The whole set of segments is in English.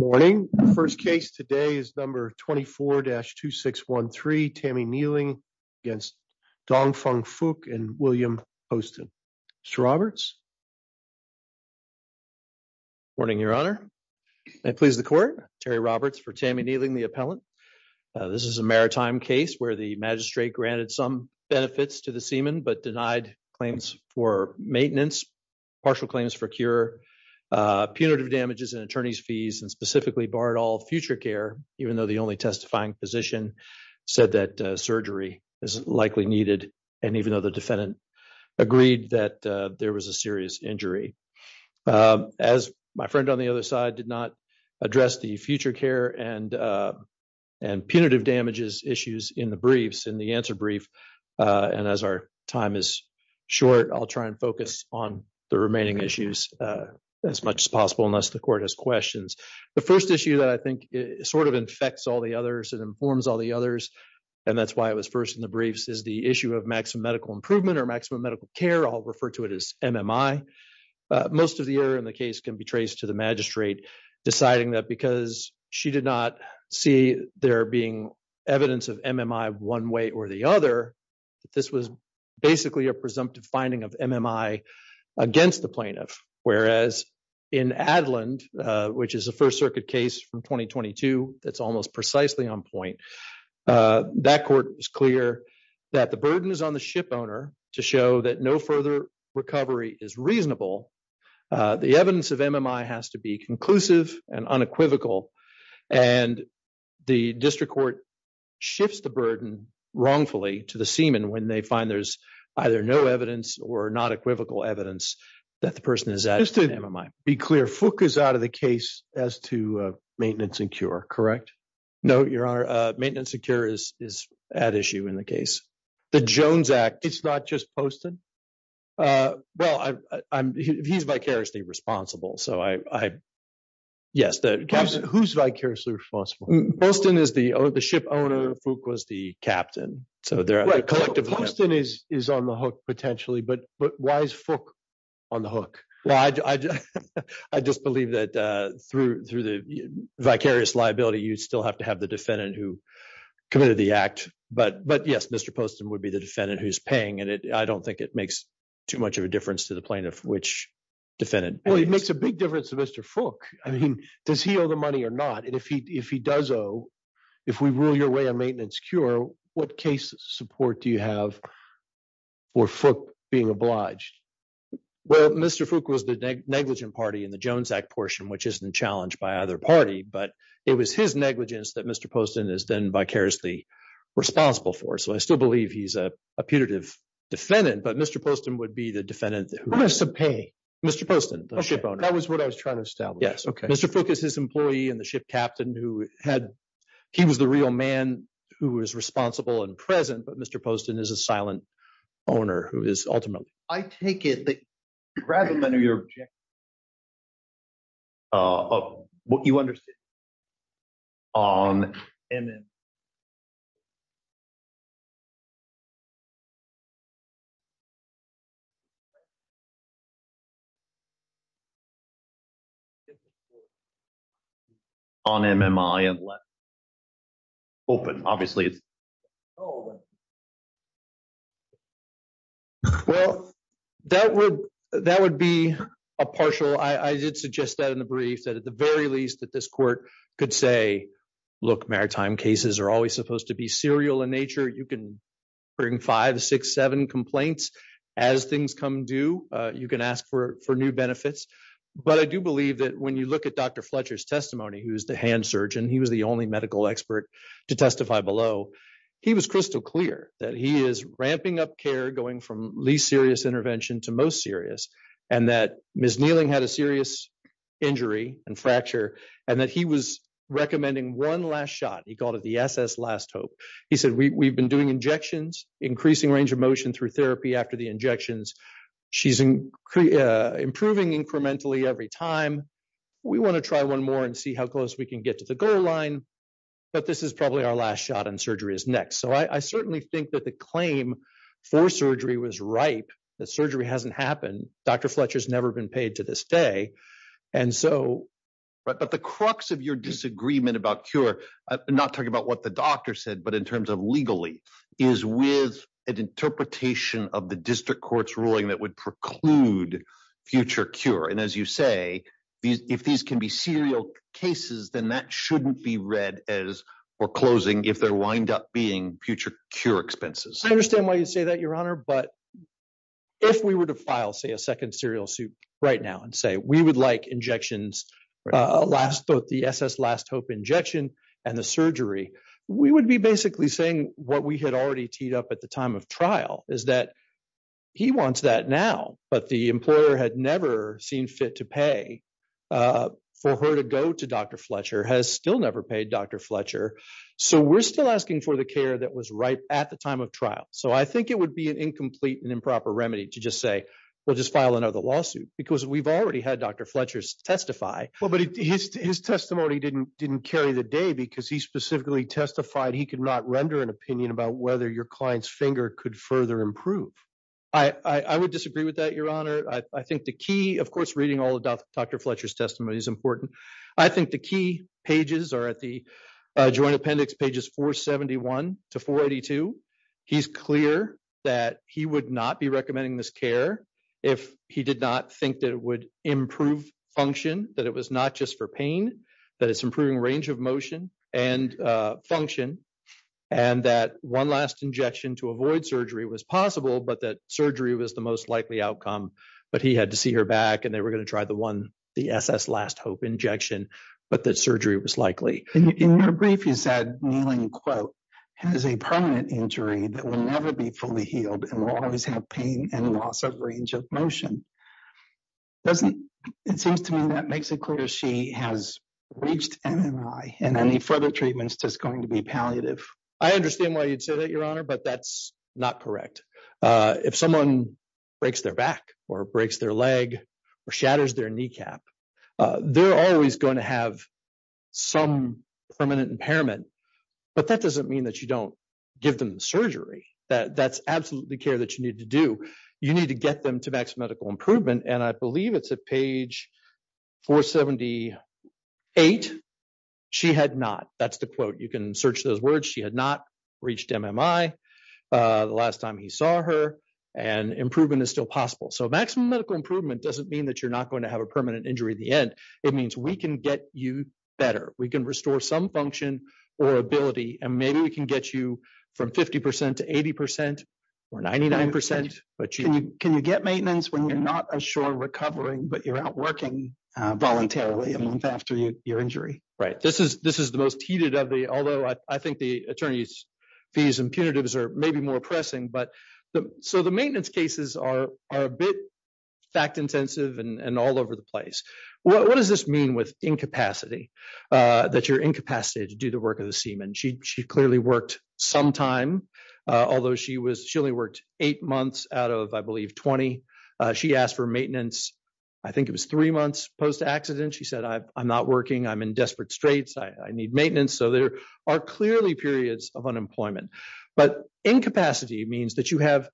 Morning, first case today is number 24-2613, Tammy Nieling against Dong Feng Fook and William Poston. Morning, your honor. I please the court, Terry Roberts for Tammy Nieling, the appellant. This is a maritime case where the magistrate granted some benefits to the seaman, but denied claims for maintenance, partial claims for cure, punitive damages and attorney's fees, and specifically barred all future care, even though the only testifying physician said that surgery is likely needed. And even though the defendant agreed that there was a serious injury. As my friend on the other side did not address the future care and punitive damages issues in the briefs, in the answer brief, and as our time is short, I'll try and focus on the remaining issues as much as possible unless the court has questions. The first issue that I think sort of infects all the others and informs all the others, and that's why it was first in the briefs is the issue of maximum medical improvement or maximum medical care, I'll refer to it as MMI. Most of the error in the case can be traced to the magistrate, deciding that because she did not see there being evidence of MMI one way or the other, that this was basically a presumptive finding of MMI against the plaintiff. Whereas in Adeland, which is a First Circuit case from 2022, that's almost precisely on point, that court was clear that the burden is on the ship owner to show that no further recovery is reasonable. The evidence of MMI has to be conclusive and unequivocal, and the district court shifts the burden wrongfully to the seaman when they find there's either no evidence or not equivocal evidence that the person is at MMI. Just to be clear, Fook is out of the case as to maintenance and cure, correct? No, Your Honor, maintenance and cure is at issue in the case. The Jones Act, it's not just Poston? Well, he's vicariously responsible, so I, yes. Who's vicariously responsible? Poston is the ship owner, Fook was the captain. Right, Poston is on the hook potentially, but why is Fook on the hook? Well, I just believe that through the vicarious liability, you'd still have to have the defendant who committed the act. But yes, Mr. Poston would be the defendant who's paying, and I don't think it makes too much of a difference to the plaintiff which defendant. Well, it makes a big difference to Mr. Fook. I mean, does he owe the money or not? And if he does owe, if we rule your way a maintenance cure, what case support do you have for Fook being obliged? Well, Mr. Fook was the negligent party in the Jones Act portion, which isn't challenged by either party, but it was his negligence that Mr. Poston is then vicariously responsible for. So I still believe he's a putative defendant, but Mr. Poston would be the defendant who's paying. Mr. Poston, the ship owner. That was what I was trying to establish. Mr. Fook is his employee and the ship captain who had, he was the real man who was responsible and present, but Mr. Poston is a silent owner who is ultimately. I take it that rather than your objection, what you understood on MMI and less. Open, obviously. Well, that would be a partial. I did suggest that in the brief that at the very least that this court could say, look, maritime cases are always supposed to be serial in nature. You can bring five, six, seven complaints. As things come due, you can ask for new benefits. But I do believe that when you look at Dr. Fletcher's testimony, who's the hand surgeon, he was the only medical expert to testify below. He was crystal clear that he is ramping up care, going from least serious intervention to most serious, and that Ms. Kneeling had a serious injury and fracture, and that he was recommending one last shot. He called it the SS last hope. He said, we've been doing injections, increasing range of motion through therapy after the injections. She's improving incrementally every time. We want to try one more and see how close we can get to the goal line. But this is probably our last shot and surgery is next. So I certainly think that the claim for surgery was ripe, that surgery hasn't happened. Dr. Fletcher's never been paid to this day. And so- Right, but the crux of your disagreement about cure, not talking about what the doctor said, but in terms of legally, is with an interpretation of the district court's ruling that would preclude future cure. And as you say, if these can be serial cases, then that shouldn't be read as foreclosing if there wind up being future cure expenses. I understand why you say that, Your Honor, but if we were to file, say, a second serial suit right now and say, we would like injections last, both the SS last hope injection and the surgery, we would be basically saying what we had already teed up at the time of trial is that he wants that now, but the employer had never seen fit to pay for her to go to Dr. Fletcher, has still never paid Dr. Fletcher. So we're still asking for the care that was right at the time of trial. So I think it would be an incomplete and improper remedy to just say, we'll just file another lawsuit because we've already had Dr. Fletcher's testify. Well, but his testimony didn't carry the day because he specifically testified he could not render an opinion about whether your client's finger could further improve. I would disagree with that, Your Honor. I think the key, of course, reading all of Dr. Fletcher's testimony is important. I think the key pages are at the joint appendix, pages 471 to 482. He's clear that he would not be recommending this care if he did not think that it would improve function, that it was not just for pain, that it's improving range of motion and function, and that one last injection to avoid surgery was possible, but that surgery was the most likely outcome, but he had to see her back and they were going to try the one, the SS Last Hope injection, but that surgery was likely. In your brief, you said Kneeling Quote has a permanent injury that will never be fully healed and will always have pain and loss of range of motion. It seems to me that makes it clear she has reached MMI and any further treatment is just going to be palliative. I understand why you'd say that, Your Honor, but that's not correct. If someone breaks their back or breaks their leg or shatters their kneecap, they're always going to have some permanent impairment, but that doesn't mean that you don't give them surgery. That's absolutely care that you need to do. You need to get them to maximum medical improvement, and I believe it's at page 478. She had not, that's the quote. You can search those words. She had not reached MMI. The last time he saw her and improvement is still possible. So maximum medical improvement doesn't mean that you're not going to have a permanent injury at the end. It means we can get you better. We can restore some function or ability, and maybe we can get you from 50% to 80% or 99%, but you- Can you get maintenance when you're not sure recovering, but you're out working voluntarily a month after your injury? Right, this is the most heated of the, although I think the attorney's fees and punitives are maybe more pressing, but so the maintenance cases are a bit fact-intensive and all over the place. What does this mean with incapacity, that you're incapacitated to do the work of the seaman? She clearly worked some time, although she only worked eight months out of, I believe, 20. She asked for maintenance, I think it was three months post-accident. She said, I'm not working. I'm in desperate straits. I need maintenance. So there are clearly periods of unemployment, but incapacity means that you have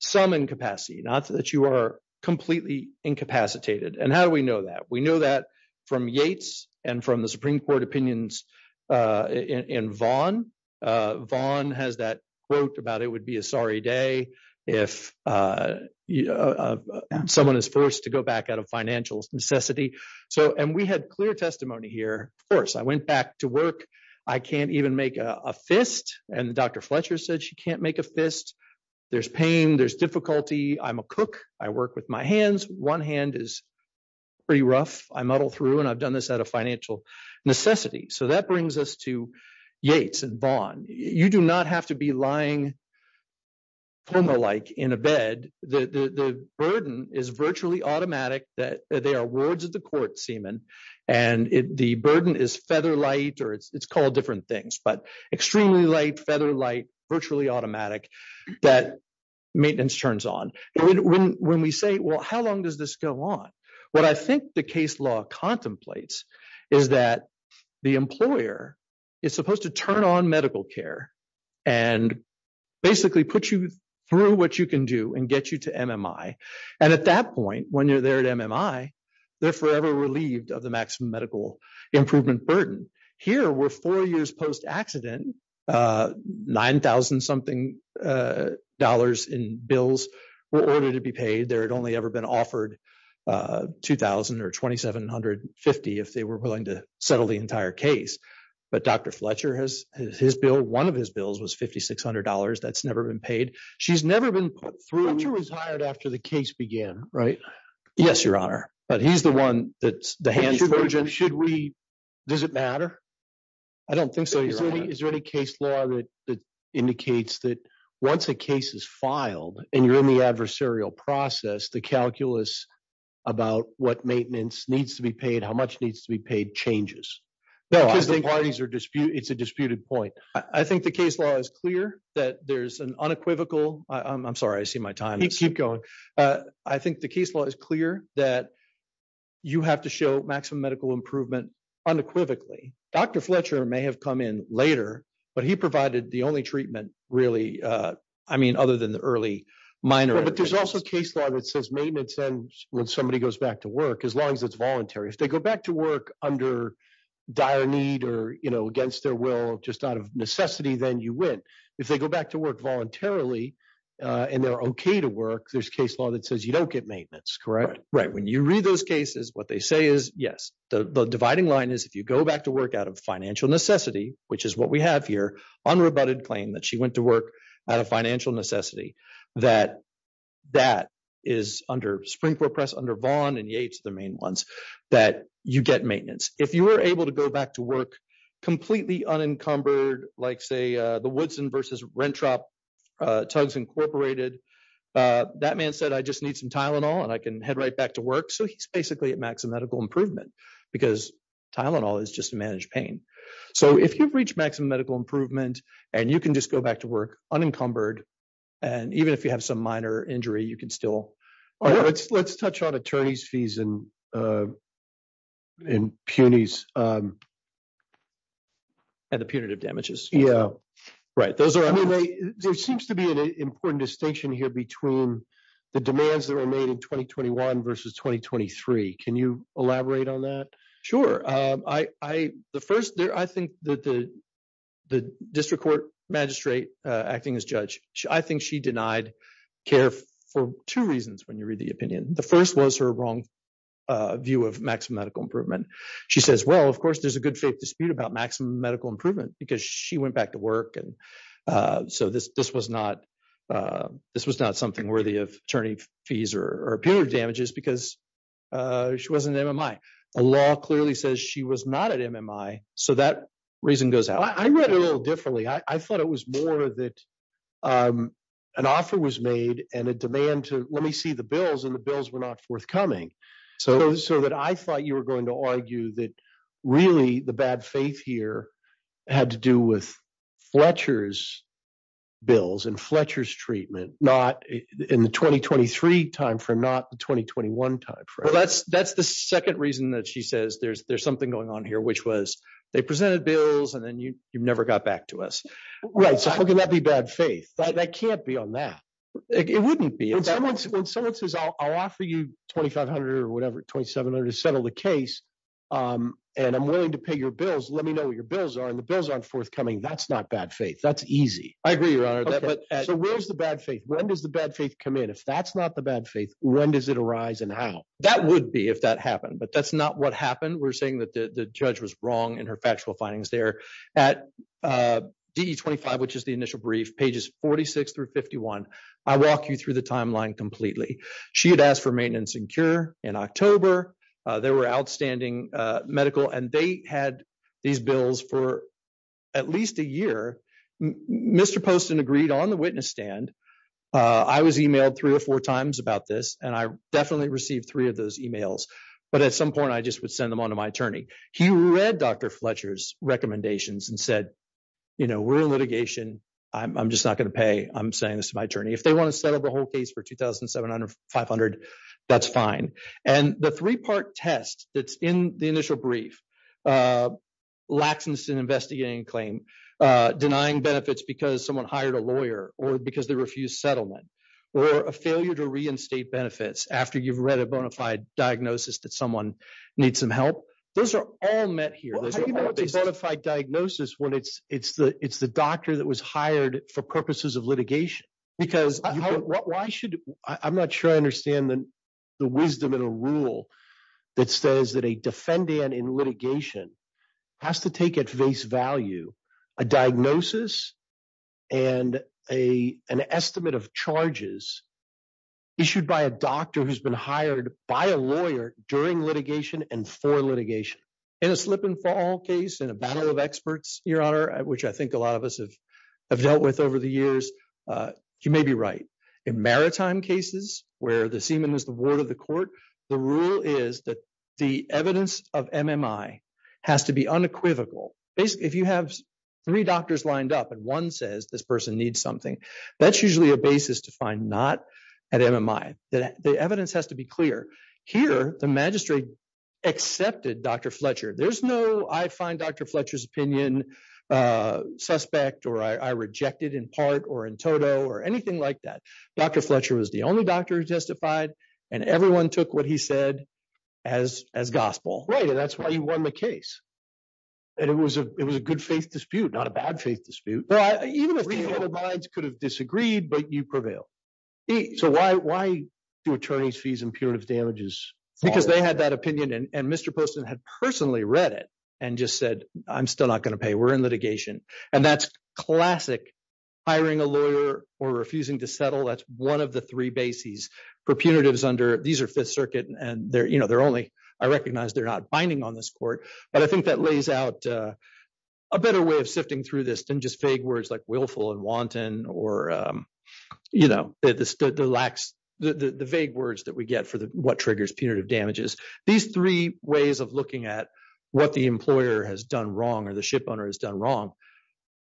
some incapacity, not that you are completely incapacitated. And how do we know that? We know that from Yates and from the Supreme Court opinions in Vaughn. Vaughn has that quote about it would be a sorry day if someone is forced to go back out of financial necessity. So, and we had clear testimony here. Of course, I went back to work. I can't even make a fist. And Dr. Fletcher said she can't make a fist. There's pain, there's difficulty. I'm a cook. I work with my hands. One hand is pretty rough. I muddle through, and I've done this out of financial necessity. So that brings us to Yates and Vaughn. You do not have to be lying coma-like in a bed. The burden is virtually automatic that they are wards of the court seaman. And the burden is feather light, or it's called different things, but extremely light, feather light, virtually automatic that maintenance turns on. When we say, well, how long does this go on? What I think the case law contemplates is that the employer is supposed to turn on medical care and basically put you through what you can do and get you to MMI. And at that point, when you're there at MMI, they're forever relieved of the maximum medical improvement burden. Here, we're four years post-accident, 9,000-something dollars in bills were ordered to be paid. There had only ever been offered 2,000 or 2,750 if they were willing to settle the entire case. But Dr. Fletcher, one of his bills was $5,600. That's never been paid. She's never been put through- Fletcher was hired after the case began, right? Yes, Your Honor. But he's the one that's the hand surgeon. Should we, does it matter? I don't think so, Your Honor. Is there any case law that indicates that once a case is filed and you're in the adversarial process, the calculus about what maintenance needs to be paid, how much needs to be paid changes? No, I think- Because the parties are disputing, it's a disputed point. I think the case law is clear that there's an unequivocal, I'm sorry, I see my time is- Keep going. I think the case law is clear that you have to show maximum medical improvement unequivocally. Dr. Fletcher may have come in later, but he provided the only treatment really, I mean, other than the early minor- But there's also a case law that says maintenance ends when somebody goes back to work, as long as it's voluntary. If they go back to work under dire need or against their will, just out of necessity, then you win. If they go back to work voluntarily and they're okay to work, there's case law that says you don't get maintenance, correct? Right, when you read those cases, what they say is, yes. The dividing line is if you go back to work out of financial necessity, which is what we have here, unrebutted claim that she went to work out of financial necessity, that that is under springboard press, under Vaughn and Yates, the main ones, that you get maintenance. If you were able to go back to work completely unencumbered, like say the Woodson versus Rentrop, Tugs Incorporated, that man said, I just need some Tylenol and I can head right back to work. So he's basically at maximum medical improvement because Tylenol is just a managed pain. So if you've reached maximum medical improvement and you can just go back to work unencumbered, and even if you have some minor injury, you can still... All right, let's touch on attorney's fees and punies. And the punitive damages. Right, those are... There seems to be an important distinction here between the demands that were made in 2021 versus 2023. Can you elaborate on that? Sure, I think the district court magistrate acting as judge, I think she denied care for two reasons when you read the opinion. The first was her wrong view of maximum medical improvement. She says, well, of course there's a good faith dispute about maximum medical improvement because she went back to work and so this was not something worthy of attorney fees or punitive damages because she wasn't at MMI. The law clearly says she was not at MMI. So that reason goes out. I read it a little differently. I thought it was more that an offer was made and a demand to let me see the bills and the bills were not forthcoming. So that I thought you were going to argue that really the bad faith here had to do with Fletcher's bills and Fletcher's treatment, not in the 2023 time frame, not the 2021 time frame. That's the second reason that she says there's something going on here, which was they presented bills and then you never got back to us. Right, so how can that be bad faith? That can't be on that. It wouldn't be. When someone says I'll offer you 2,500 or whatever, 2,700 to settle the case and I'm willing to pay your bills, let me know what your bills are and the bills aren't forthcoming. That's not bad faith. That's easy. I agree, Your Honor. So where's the bad faith? When does the bad faith come in? If that's not the bad faith, when does it arise and how? That would be if that happened, but that's not what happened. We're saying that the judge was wrong in her factual findings there. At DE 25, which is the initial brief, pages 46 through 51, I walk you through the timeline completely. She had asked for maintenance and cure in October. There were outstanding medical and they had these bills for at least a year. Mr. Poston agreed on the witness stand. I was emailed three or four times about this and I definitely received three of those emails, but at some point I just would send them onto my attorney. He read Dr. Fletcher's recommendations and said, you know, we're in litigation. I'm just not gonna pay. I'm saying this to my attorney. If they wanna settle the whole case for 2,700 or 500, that's fine. And the three-part test that's in the initial brief, Laxmanson investigating claim, denying benefits because someone hired a lawyer or because they refused settlement or a failure to reinstate benefits after you've read a bona fide diagnosis that someone needs some help. Those are all met here. There's a bona fide diagnosis when it's the doctor that was hired for purposes of litigation. Because why should, I'm not sure I understand the wisdom in a rule that says that a defendant in litigation has to take at face value a diagnosis and an estimate of charges issued by a doctor who's been hired by a lawyer during litigation and for litigation. In a slip and fall case, in a battle of experts, Your Honor, which I think a lot of us have dealt with over the years, you may be right. In maritime cases where the seaman is the word of the court, the rule is that the evidence of MMI has to be unequivocal. Basically, if you have three doctors lined up and one says this person needs something, that's usually a basis to find not at MMI. The evidence has to be clear. Here, the magistrate accepted Dr. Fletcher. There's no, I find Dr. Fletcher's opinion suspect or I reject it in part or in total or anything like that. Dr. Fletcher was the only doctor who testified and everyone took what he said as gospel. Right, and that's why you won the case. And it was a good faith dispute, not a bad faith dispute. Well, even if the other minds could have disagreed, but you prevailed. So why do attorneys fees impurities damages? Because they had that opinion and Mr. Poston had personally read it and just said, I'm still not gonna pay, we're in litigation. And that's classic hiring a lawyer or refusing to settle. That's one of the three bases for punitives under, these are Fifth Circuit and they're only, I recognize they're not binding on this court, but I think that lays out a better way of sifting through this than just vague words like willful and wanton or the vague words that we get for what triggers punitive damages. These three ways of looking at what the employer has done wrong or the ship owner has done wrong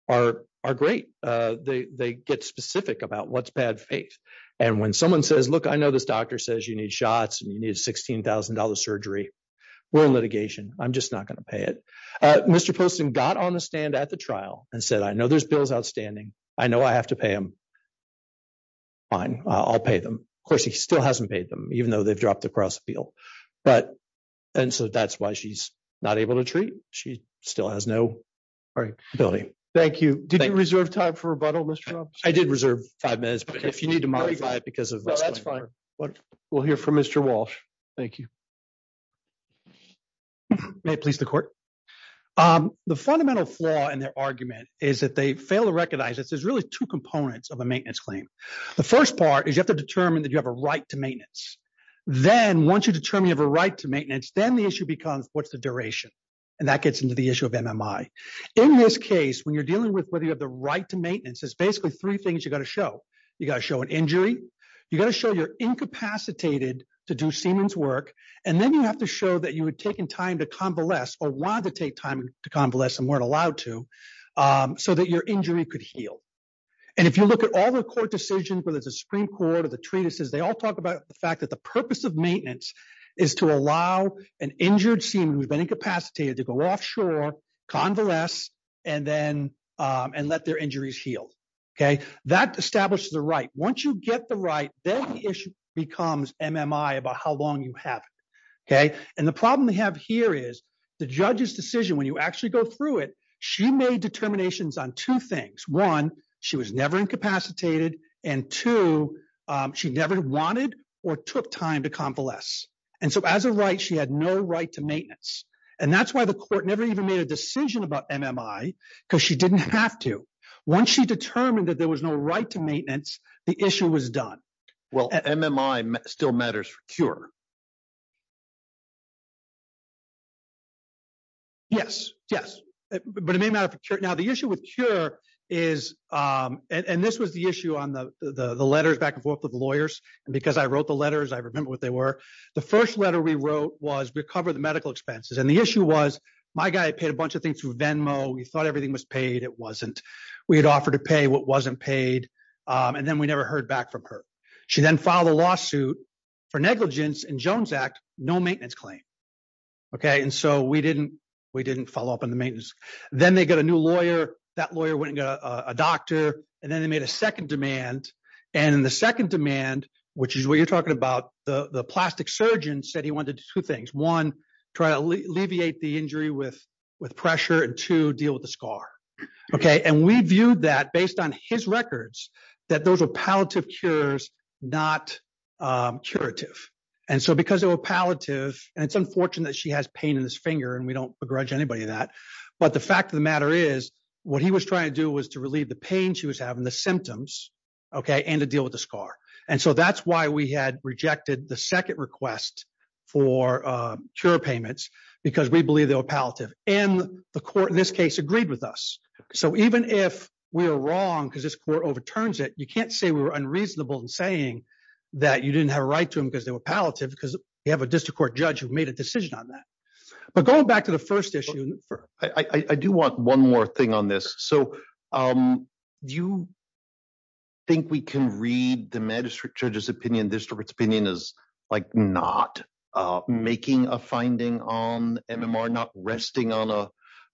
are great. They get specific about what's bad faith. And when someone says, look, I know this doctor says you need shots and you need a $16,000 surgery. We're in litigation, I'm just not gonna pay it. Mr. Poston got on the stand at the trial and said, I know there's bills outstanding. I know I have to pay them, fine, I'll pay them. Of course, he still hasn't paid them even though they've dropped the cross appeal. But, and so that's why she's not able to treat. She still has no ability. Thank you. Did you reserve time for rebuttal, Mr. Rob? I did reserve five minutes, but if you need to modify it because of- No, that's fine. We'll hear from Mr. Walsh. Thank you. May it please the court. The fundamental flaw in their argument is that they fail to recognize that there's really two components of a maintenance claim. The first part is you have to determine that you have a right to maintenance. Then once you determine you have a right to maintenance, then the issue becomes what's the duration? And that gets into the issue of MMI. In this case, when you're dealing with whether you have the right to maintenance, there's basically three things you gotta show. You gotta show an injury. You gotta show you're incapacitated to do seaman's work. And then you have to show that you had taken time to convalesce or wanted to take time to convalesce and weren't allowed to so that your injury could heal. And if you look at all the court decisions, whether it's a Supreme Court or the treatises, they all talk about the fact that the purpose of maintenance is to allow an injured seaman who's been incapacitated to go offshore, convalesce, and let their injuries heal. That establishes the right. Once you get the right, then the issue becomes MMI about how long you have. And the problem we have here is the judge's decision, when you actually go through it, she made determinations on two things. One, she was never incapacitated. And two, she never wanted or took time to convalesce. And so as a right, she had no right to maintenance. And that's why the court never even made a decision about MMI, because she didn't have to. Once she determined that there was no right to maintenance, the issue was done. Well, MMI still matters for cure. Yes, yes, but it may matter for cure. Now, the issue with cure is, and this was the issue on the letters back and forth with the lawyers. And because I wrote the letters, I remember what they were. The first letter we wrote was, recover the medical expenses. And the issue was, my guy had paid a bunch of things through Venmo. We thought everything was paid, it wasn't. We had offered to pay what wasn't paid. And then we never heard back from her. She then filed a lawsuit for negligence in Jones Act, no maintenance claim. Okay, and so we didn't follow up on the maintenance. Then they got a new lawyer, that lawyer went and got a doctor, and then they made a second demand. And in the second demand, which is what you're talking about, the plastic surgeon said he wanted to do two things. One, try to alleviate the injury with pressure, and two, deal with the scar. Okay, and we viewed that based on his records, that those were palliative cures, not curative. And so because they were palliative, and it's unfortunate that she has pain in his finger, and we don't begrudge anybody that. But the fact of the matter is, what he was trying to do was to relieve the pain she was having, the symptoms, okay, and to deal with the scar. And so that's why we had rejected the second request for cure payments, because we believe they were palliative. And the court in this case agreed with us. So even if we are wrong, because this court overturns it, you can't say we were unreasonable in saying that you didn't have a right to them because they were palliative, because you have a district court judge who made a decision on that. But going back to the first issue. I do want one more thing on this. So do you think we can read the magistrate judge's opinion, district court's opinion as like not making a finding on MMR, not resting on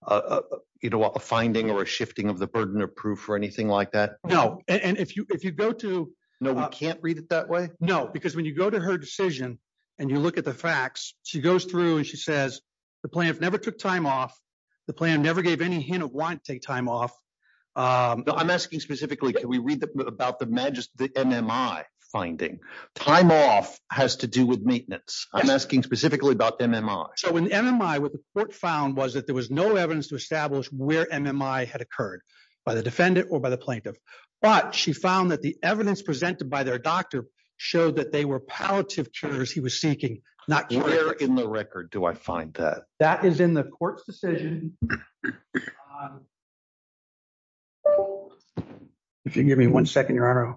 a finding or a shifting of the burden of proof or anything like that? No, and if you go to- No, we can't read it that way? No, because when you go to her decision, and you look at the facts, she goes through and she says, the plaintiff never took time off. The plaintiff never gave any hint of wanting to take time off. No, I'm asking specifically, can we read about the MMI finding? Time off has to do with maintenance. I'm asking specifically about MMI. So in MMI, what the court found was that there was no evidence to establish where MMI had occurred by the defendant or by the plaintiff. But she found that the evidence presented by their doctor showed that they were palliative cures he was seeking, not- Where in the record do I find that? That is in the court's decision. If you give me one second, Your Honor.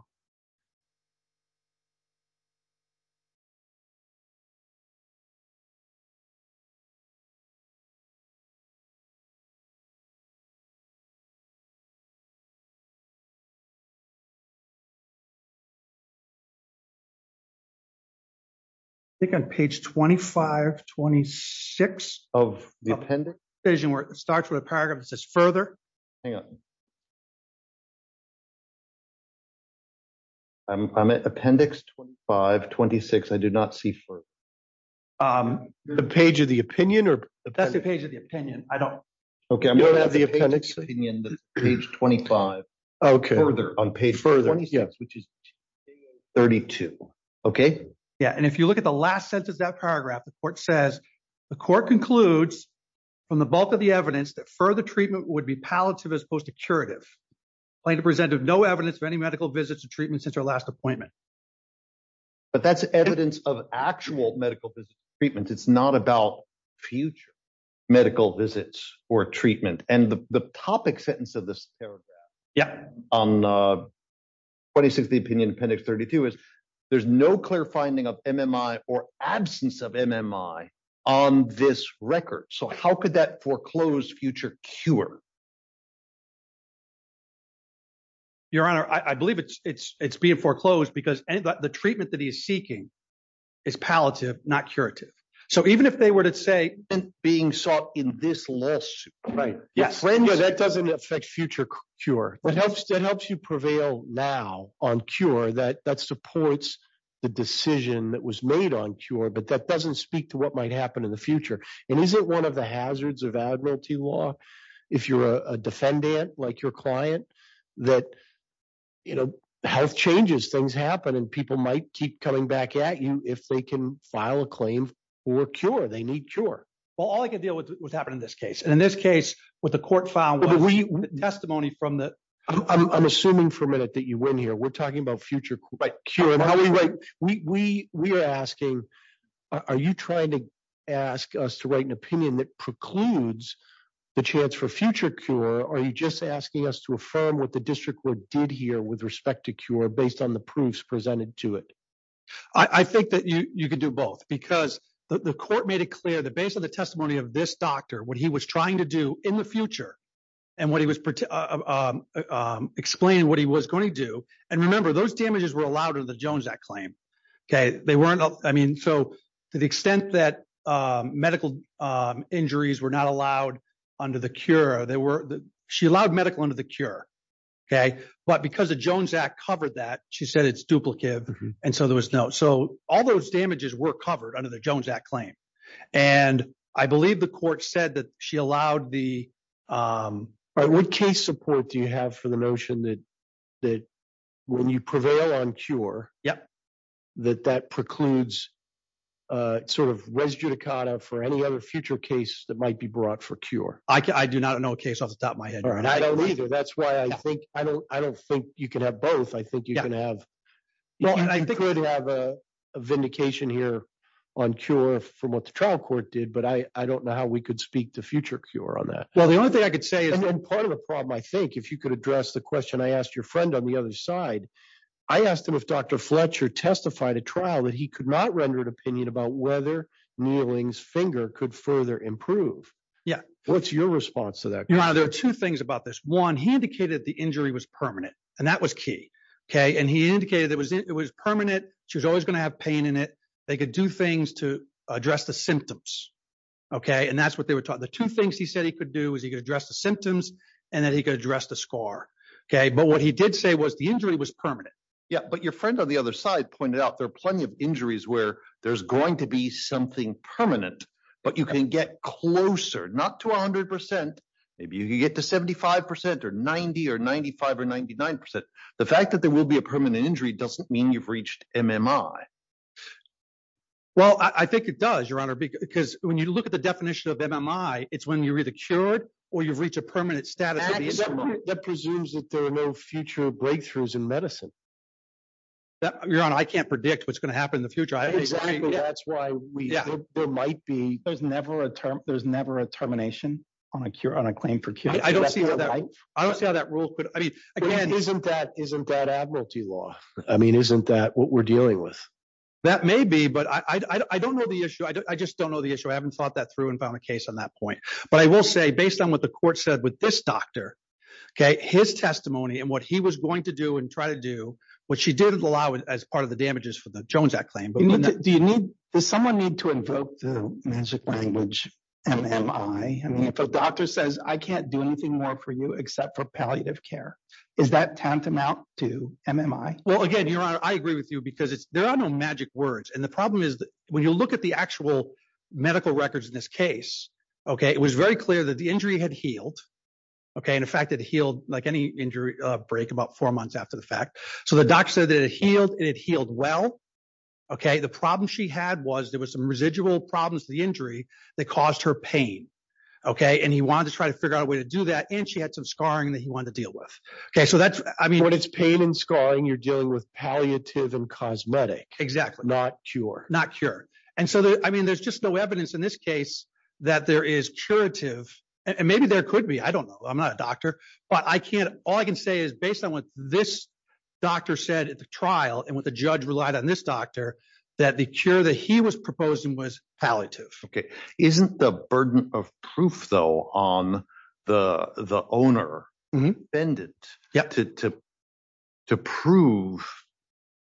I think on page 25, 26 of the appendix- Decision where it starts with a paragraph that says further. Hang on. I'm at appendix 25, 26. I do not see further. The page of the opinion or- That's the page of the opinion. I don't- Okay, I'm going to have the appendix- You don't have the page of the opinion that's page 25. Okay. Further. On page 26, which is page 32. Okay. Yeah, and if you look at the last sentence, that paragraph, the court says, the court concludes from the bulk of the evidence that further treatment would be palliative as opposed to curative. Plaintiff presented no evidence of any medical visits to treatment since our last appointment. But that's evidence of actual medical visits to treatment. It's not about future medical visits or treatment. And the topic sentence of this paragraph- On 26th opinion, appendix 32, is there's no clear finding of MMI or absence of MMI on this record. So how could that foreclose future cure? Your Honor, I believe it's being foreclosed because the treatment that he is seeking is palliative, not curative. So even if they were to say- Being sought in this lawsuit. Right. Yes. No, that doesn't affect future cure. It helps you prevail now on cure that supports the decision that was made on cure, but that doesn't speak to what might happen in the future. And isn't one of the hazards of admiralty law? If you're a defendant, like your client, that health changes, things happen, and people might keep coming back at you if they can file a claim for a cure, they need cure. Well, all I can deal with what's happened in this case. And in this case, what the court found was testimony from the- I'm assuming for a minute that you win here. We're talking about future cure. And how we write, we are asking, are you trying to ask us to write an opinion that precludes the chance for future cure, or are you just asking us to affirm what the district court did here with respect to cure based on the proofs presented to it? I think that you can do both because the court made it clear that based on the testimony of this doctor, what he was trying to do in the future and what he was explaining what he was going to do. And remember, those damages were allowed under the Jones Act claim, okay? They weren't- I mean, so to the extent that medical injuries were not allowed under the cure, she allowed medical under the cure, okay? But because the Jones Act covered that, she said it's duplicative, and so there was no- So all those damages were covered under the Jones Act claim. And I believe the court said that she allowed the- All right, what case support do you have for the notion that when you prevail on cure, that that precludes sort of res judicata for any other future case that might be brought for cure? I do not know a case off the top of my head. All right. I don't either. That's why I think- I don't think you can have both. I think you can have- Well, I think- You could have a vindication here on cure from what the trial court did, but I don't know how we could speak to future cure on that. Well, the only thing I could say is- And then part of the problem, I think, if you could address the question I asked your friend on the other side, I asked him if Dr. Fletcher testified at trial that he could not render an opinion about whether Neeling's finger could further improve. Yeah. What's your response to that? You know, there are two things about this. One, he indicated that the injury was permanent and that was key, okay? And he indicated that it was permanent. She was always gonna have pain in it. They could do things to address the symptoms, okay? And that's what they were taught. The two things he said he could do was he could address the symptoms and that he could address the scar, okay? But what he did say was the injury was permanent. Yeah, but your friend on the other side pointed out there are plenty of injuries where there's going to be something permanent, but you can get closer, not to 100%. Maybe you can get to 75% or 90 or 95 or 99%. The fact that there will be a permanent injury doesn't mean you've reached MMI. Well, I think it does, Your Honor, because when you look at the definition of MMI, it's when you're either cured or you've reached a permanent status of MMI. That presumes that there are no future breakthroughs in medicine. Your Honor, I can't predict what's gonna happen in the future. Exactly, that's why there might be- There's never a termination on a claim for cure. I don't see how that rule could, I mean, again- Isn't that admiralty law? I mean, isn't that what we're dealing with? That may be, but I don't know the issue. I just don't know the issue. I haven't thought that through and found a case on that point. But I will say, based on what the court said with this doctor, okay, his testimony and what he was going to do and try to do, what she did allow as part of the damages for the Jones Act claim. Do you need, does someone need to invoke the magic language MMI? I mean, if a doctor says, I can't do anything more for you except for palliative care, is that tantamount to MMI? Well, again, Your Honor, I agree with you because there are no magic words. And the problem is that when you look at the actual medical records in this case, okay, it was very clear that the injury had healed, okay? And in fact, it healed like any injury break about four months after the fact. So the doctor said that it healed and it healed well, okay? The problem she had was there was some residual problems with the injury that caused her pain, okay? And he wanted to try to figure out a way to do that. And she had some scarring that he wanted to deal with. Okay, so that's, I mean- When it's pain and scarring, you're dealing with palliative and cosmetic. Exactly. Not cure. Not cure. And so, I mean, there's just no evidence in this case that there is curative. And maybe there could be, I don't know. I'm not a doctor, but I can't, all I can say is based on what this doctor said at the trial and what the judge relied on this doctor, that the cure that he was proposing was palliative. Okay, isn't the burden of proof though on the owner dependent to prove,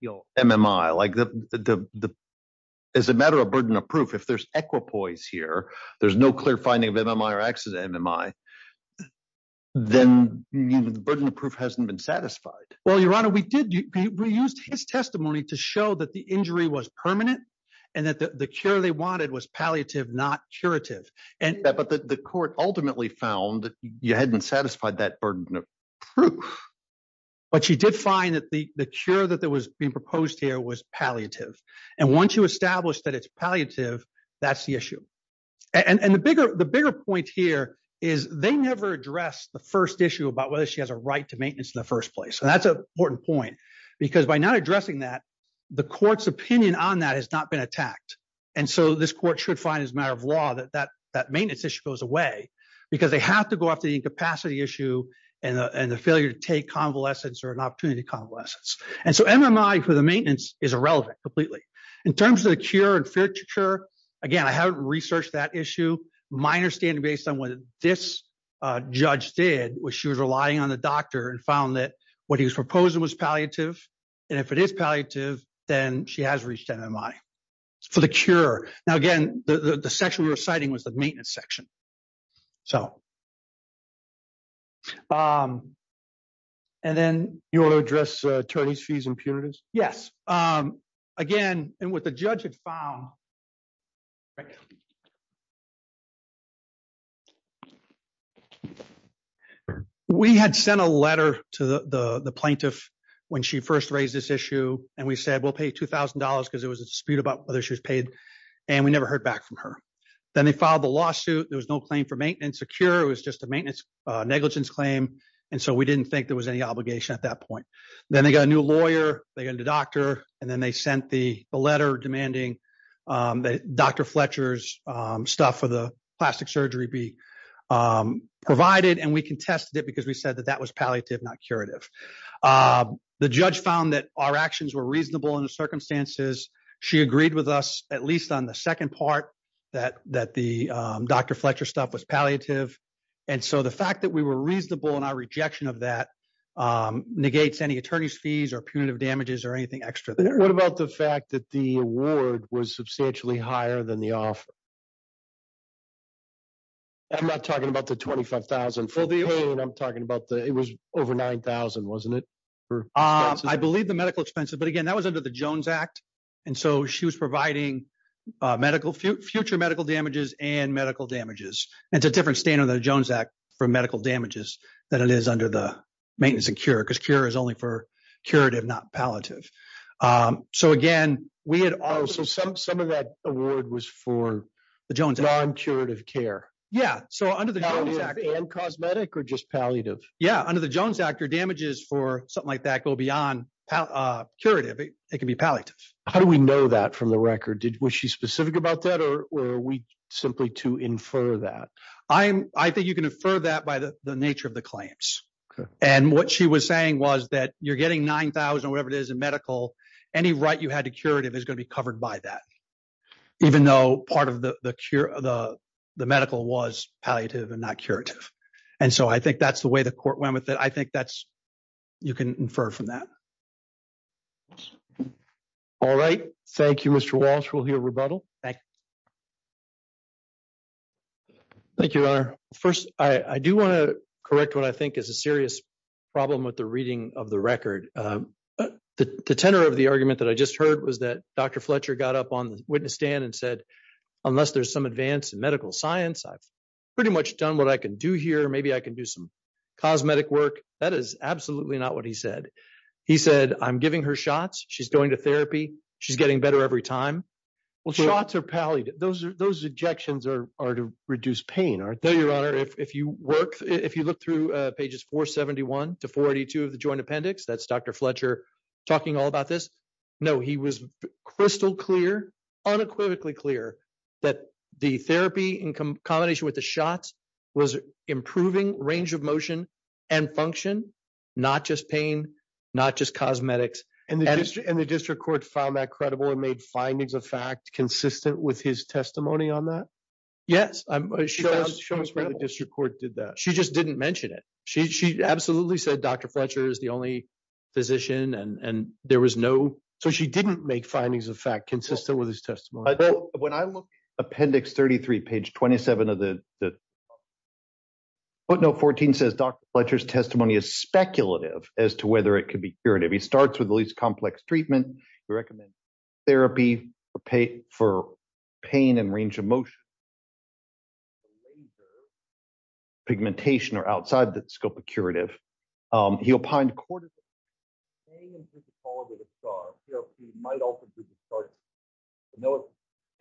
you know, MMI? Like the, as a matter of burden of proof, if there's equipoise here, there's no clear finding of MMI or access to MMI, then the burden of proof hasn't been satisfied. Well, Your Honor, we did, we used his testimony to show that the injury was permanent and that the cure they wanted was palliative, not curative. But the court ultimately found you hadn't satisfied that burden of proof. But she did find that the cure that was being proposed here was palliative. And once you establish that it's palliative, that's the issue. And the bigger point here is they never addressed the first issue about whether she has a right to maintenance in the first place. And that's an important point because by not addressing that, the court's opinion on that has not been attacked. And so this court should find as a matter of law that that maintenance issue goes away because they have to go after the incapacity issue and the failure to take convalescence or an opportunity to convalescence. And so MMI for the maintenance is irrelevant completely. In terms of the cure and future, again, I haven't researched that issue. My understanding based on what this judge did was she was relying on the doctor and found that what he was proposing was palliative. And if it is palliative, then she has reached MMI for the cure. Now, again, the section we were citing was the maintenance section. And then you want to address attorney's fees and punitives? Yes. Again, and what the judge had found, we had sent a letter to the plaintiff when she first raised this issue and we said, we'll pay $2,000 because it was a dispute about whether she was paid and we never heard back from her. Then they filed the lawsuit. There was no claim for maintenance or cure. It was just a maintenance negligence claim. And so we didn't think there was any obligation at that point. Then they got a new lawyer, they got a new doctor, and then they sent the letter demanding that Dr. Fletcher's stuff for the plastic surgery be provided. And we contested it because we said that that was palliative, not curative. The judge found that our actions were reasonable in the circumstances. She agreed with us, at least on the second part, that the Dr. Fletcher stuff was palliative. And so the fact that we were reasonable in our rejection of that negates any attorney's fees or punitive damages or anything extra there. What about the fact that the award was substantially higher than the offer? I'm not talking about the 25,000. For the pain, I'm talking about the, it was over 9,000, wasn't it? I believe the medical expenses, but again, that was under the Jones Act. And so she was providing future medical damages and medical damages. It's a different standard under the Jones Act for medical damages than it is under the maintenance and cure, because cure is only for curative, not palliative. So again, we had also, some of that award was for the Jones Act. Non-curative care. Yeah, so under the Jones Act. Palliative and cosmetic, or just palliative? Yeah, under the Jones Act, your damages for something like that can't go beyond curative. It can be palliative. How do we know that from the record? Was she specific about that, or are we simply to infer that? I think you can infer that by the nature of the claims. And what she was saying was that you're getting 9,000 or whatever it is in medical, any right you had to curative is gonna be covered by that, even though part of the medical was palliative and not curative. And so I think that's the way the court went with it. I think that's, you can infer from that. All right, thank you, Mr. Walsh. We'll hear rebuttal. Thank you. Thank you, Your Honor. First, I do wanna correct what I think is a serious problem with the reading of the record. The tenor of the argument that I just heard was that Dr. Fletcher got up on the witness stand and said, unless there's some advance in medical science, I've pretty much done what I can do here. Maybe I can do some cosmetic work. That is absolutely not what he said. He said, I'm giving her shots. She's going to therapy. She's getting better every time. Well, shots are palliative. Those injections are to reduce pain, aren't they, Your Honor? If you look through pages 471 to 482 of the joint appendix, that's Dr. Fletcher talking all about this. No, he was crystal clear, unequivocally clear that the therapy in combination with the shots was improving range of motion and function, not just pain, not just cosmetics. And the district court found that credible and made findings of fact consistent with his testimony on that? Yes, she found it credible. Show us where the district court did that. She just didn't mention it. She absolutely said Dr. Fletcher is the only physician and there was no... So she didn't make findings of fact consistent with his testimony. When I look appendix 33, page 27 of the footnote 14 says Dr. Fletcher's testimony is speculative as to whether it could be curative. He starts with the least complex treatment. He recommends therapy for pain and range of motion. Pigmentation or outside the scope of curative. He opined... Pain and physicality of the scar therapy might also be the scar therapy. No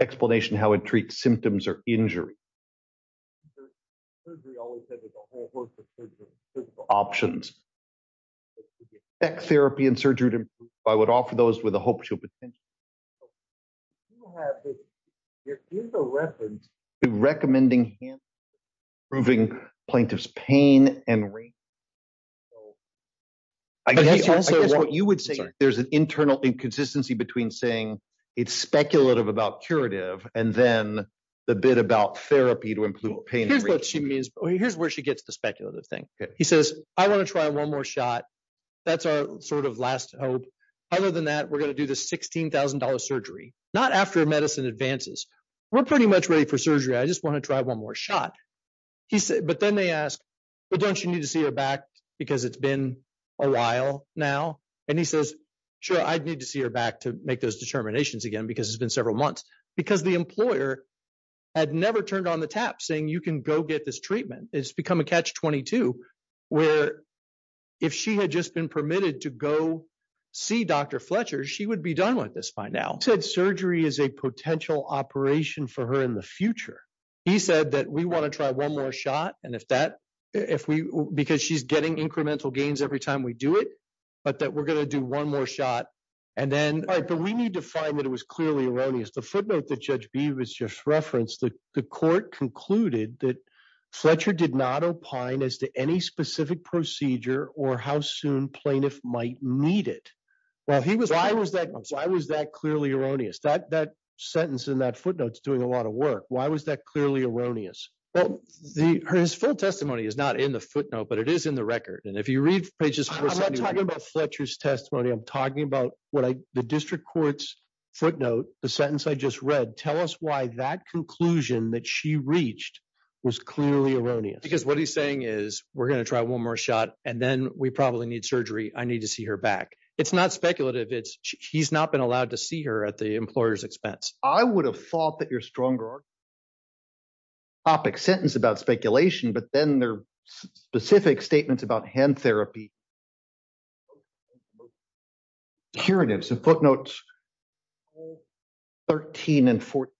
explanation how it treats symptoms or injury. Surgery always says there's a whole host of surgical... Options. Back therapy and surgery would improve. I would offer those with a hope she'll potentially... There is a reference to recommending hand... Proving plaintiff's pain and range of motion. So... I guess what you would say there's an internal inconsistency between saying it's speculative about curative and then the bit about therapy to improve pain and range. Here's what she means. Here's where she gets the speculative thing. He says, I wanna try one more shot. That's our sort of last hope. Other than that, we're gonna do the $16,000 surgery. Not after medicine advances. We're pretty much ready for surgery. I just wanna try one more shot. But then they ask, but don't you need to see her back because it's been a while now? And he says, sure, I'd need to see her back to make those determinations again because it's been several months. Because the employer had never turned on the tap saying you can go get this treatment. It's become a catch-22 where if she had just been permitted to go see Dr. Fletcher, she would be done with this by now. Said surgery is a potential operation for her in the future. He said that we wanna try one more shot. And if that... Because she's getting incremental gains every time we do it. But that we're gonna do one more shot. And then... All right, but we need to find that it was clearly erroneous. The footnote that Judge Beebe has just referenced, the court concluded that Fletcher did not opine as to any specific procedure or how soon plaintiff might meet it. Well, he was... Why was that clearly erroneous? That sentence in that footnote's doing a lot of work. Why was that clearly erroneous? Well, his full testimony is not in the footnote, but it is in the record. And if you read pages... I'm not talking about Fletcher's testimony. I'm talking about the district court's footnote, the sentence I just read. Tell us why that conclusion that she reached was clearly erroneous. Because what he's saying is, we're gonna try one more shot, and then we probably need surgery. I need to see her back. It's not speculative. He's not been allowed to see her at the employer's expense. I would have thought that your stronger... Topic sentence about speculation, but then there are specific statements about hand therapy. Curatives and footnotes. 13 and 14.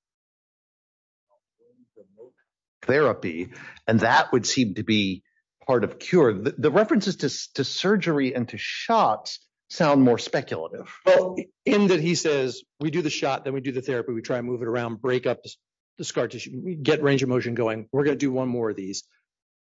Therapy. And that would seem to be part of cure. The references to surgery and to shots sound more speculative. Well, in that he says, we do the shot, then we do the therapy. We try and move it around, break up the scar tissue. We get range of motion going. We're gonna do one more of these,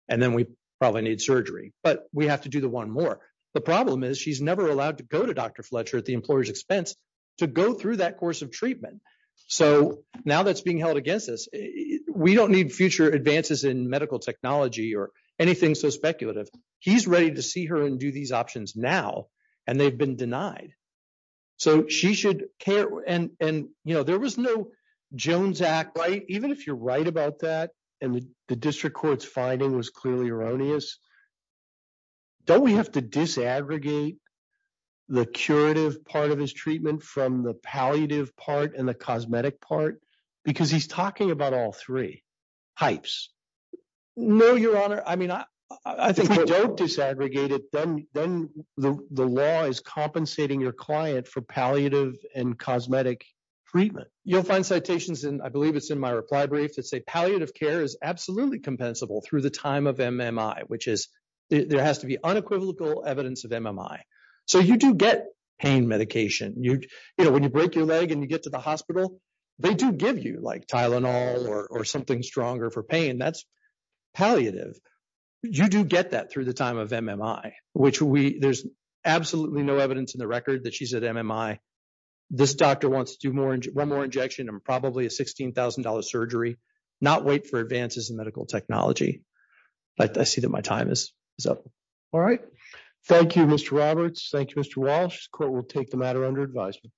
and then we probably need surgery. But we have to do the one more. The problem is she's never allowed to go to Dr. Fletcher at the employer's expense to go through that course of treatment. So now that's being held against us, we don't need future advances in medical technology or anything so speculative. He's ready to see her and do these options now, and they've been denied. So she should care. And there was no Jones Act, right? Even if you're right about that, and the district court's finding was clearly erroneous, don't we have to disaggregate the curative part of his treatment from the palliative part and the cosmetic part? Because he's talking about all three types. No, Your Honor. I mean, I think if we don't disaggregate it, then the law is compensating your client for palliative and cosmetic treatment. You'll find citations, and I believe it's in my reply brief, that say palliative care is absolutely compensable through the time of MMI, which is there has to be unequivocal evidence of MMI. So you do get pain medication. You know, when you break your leg and you get to the hospital, they do give you like Tylenol or something stronger for pain. That's palliative. You do get that through the time of MMI, which there's absolutely no evidence in the record that she's at MMI. This doctor wants to do one more injection and probably a $16,000 surgery, not wait for advances in medical technology. But I see that my time is up. All right. Thank you, Mr. Roberts. Thank you, Mr. Walsh. Court will take the matter under advisement.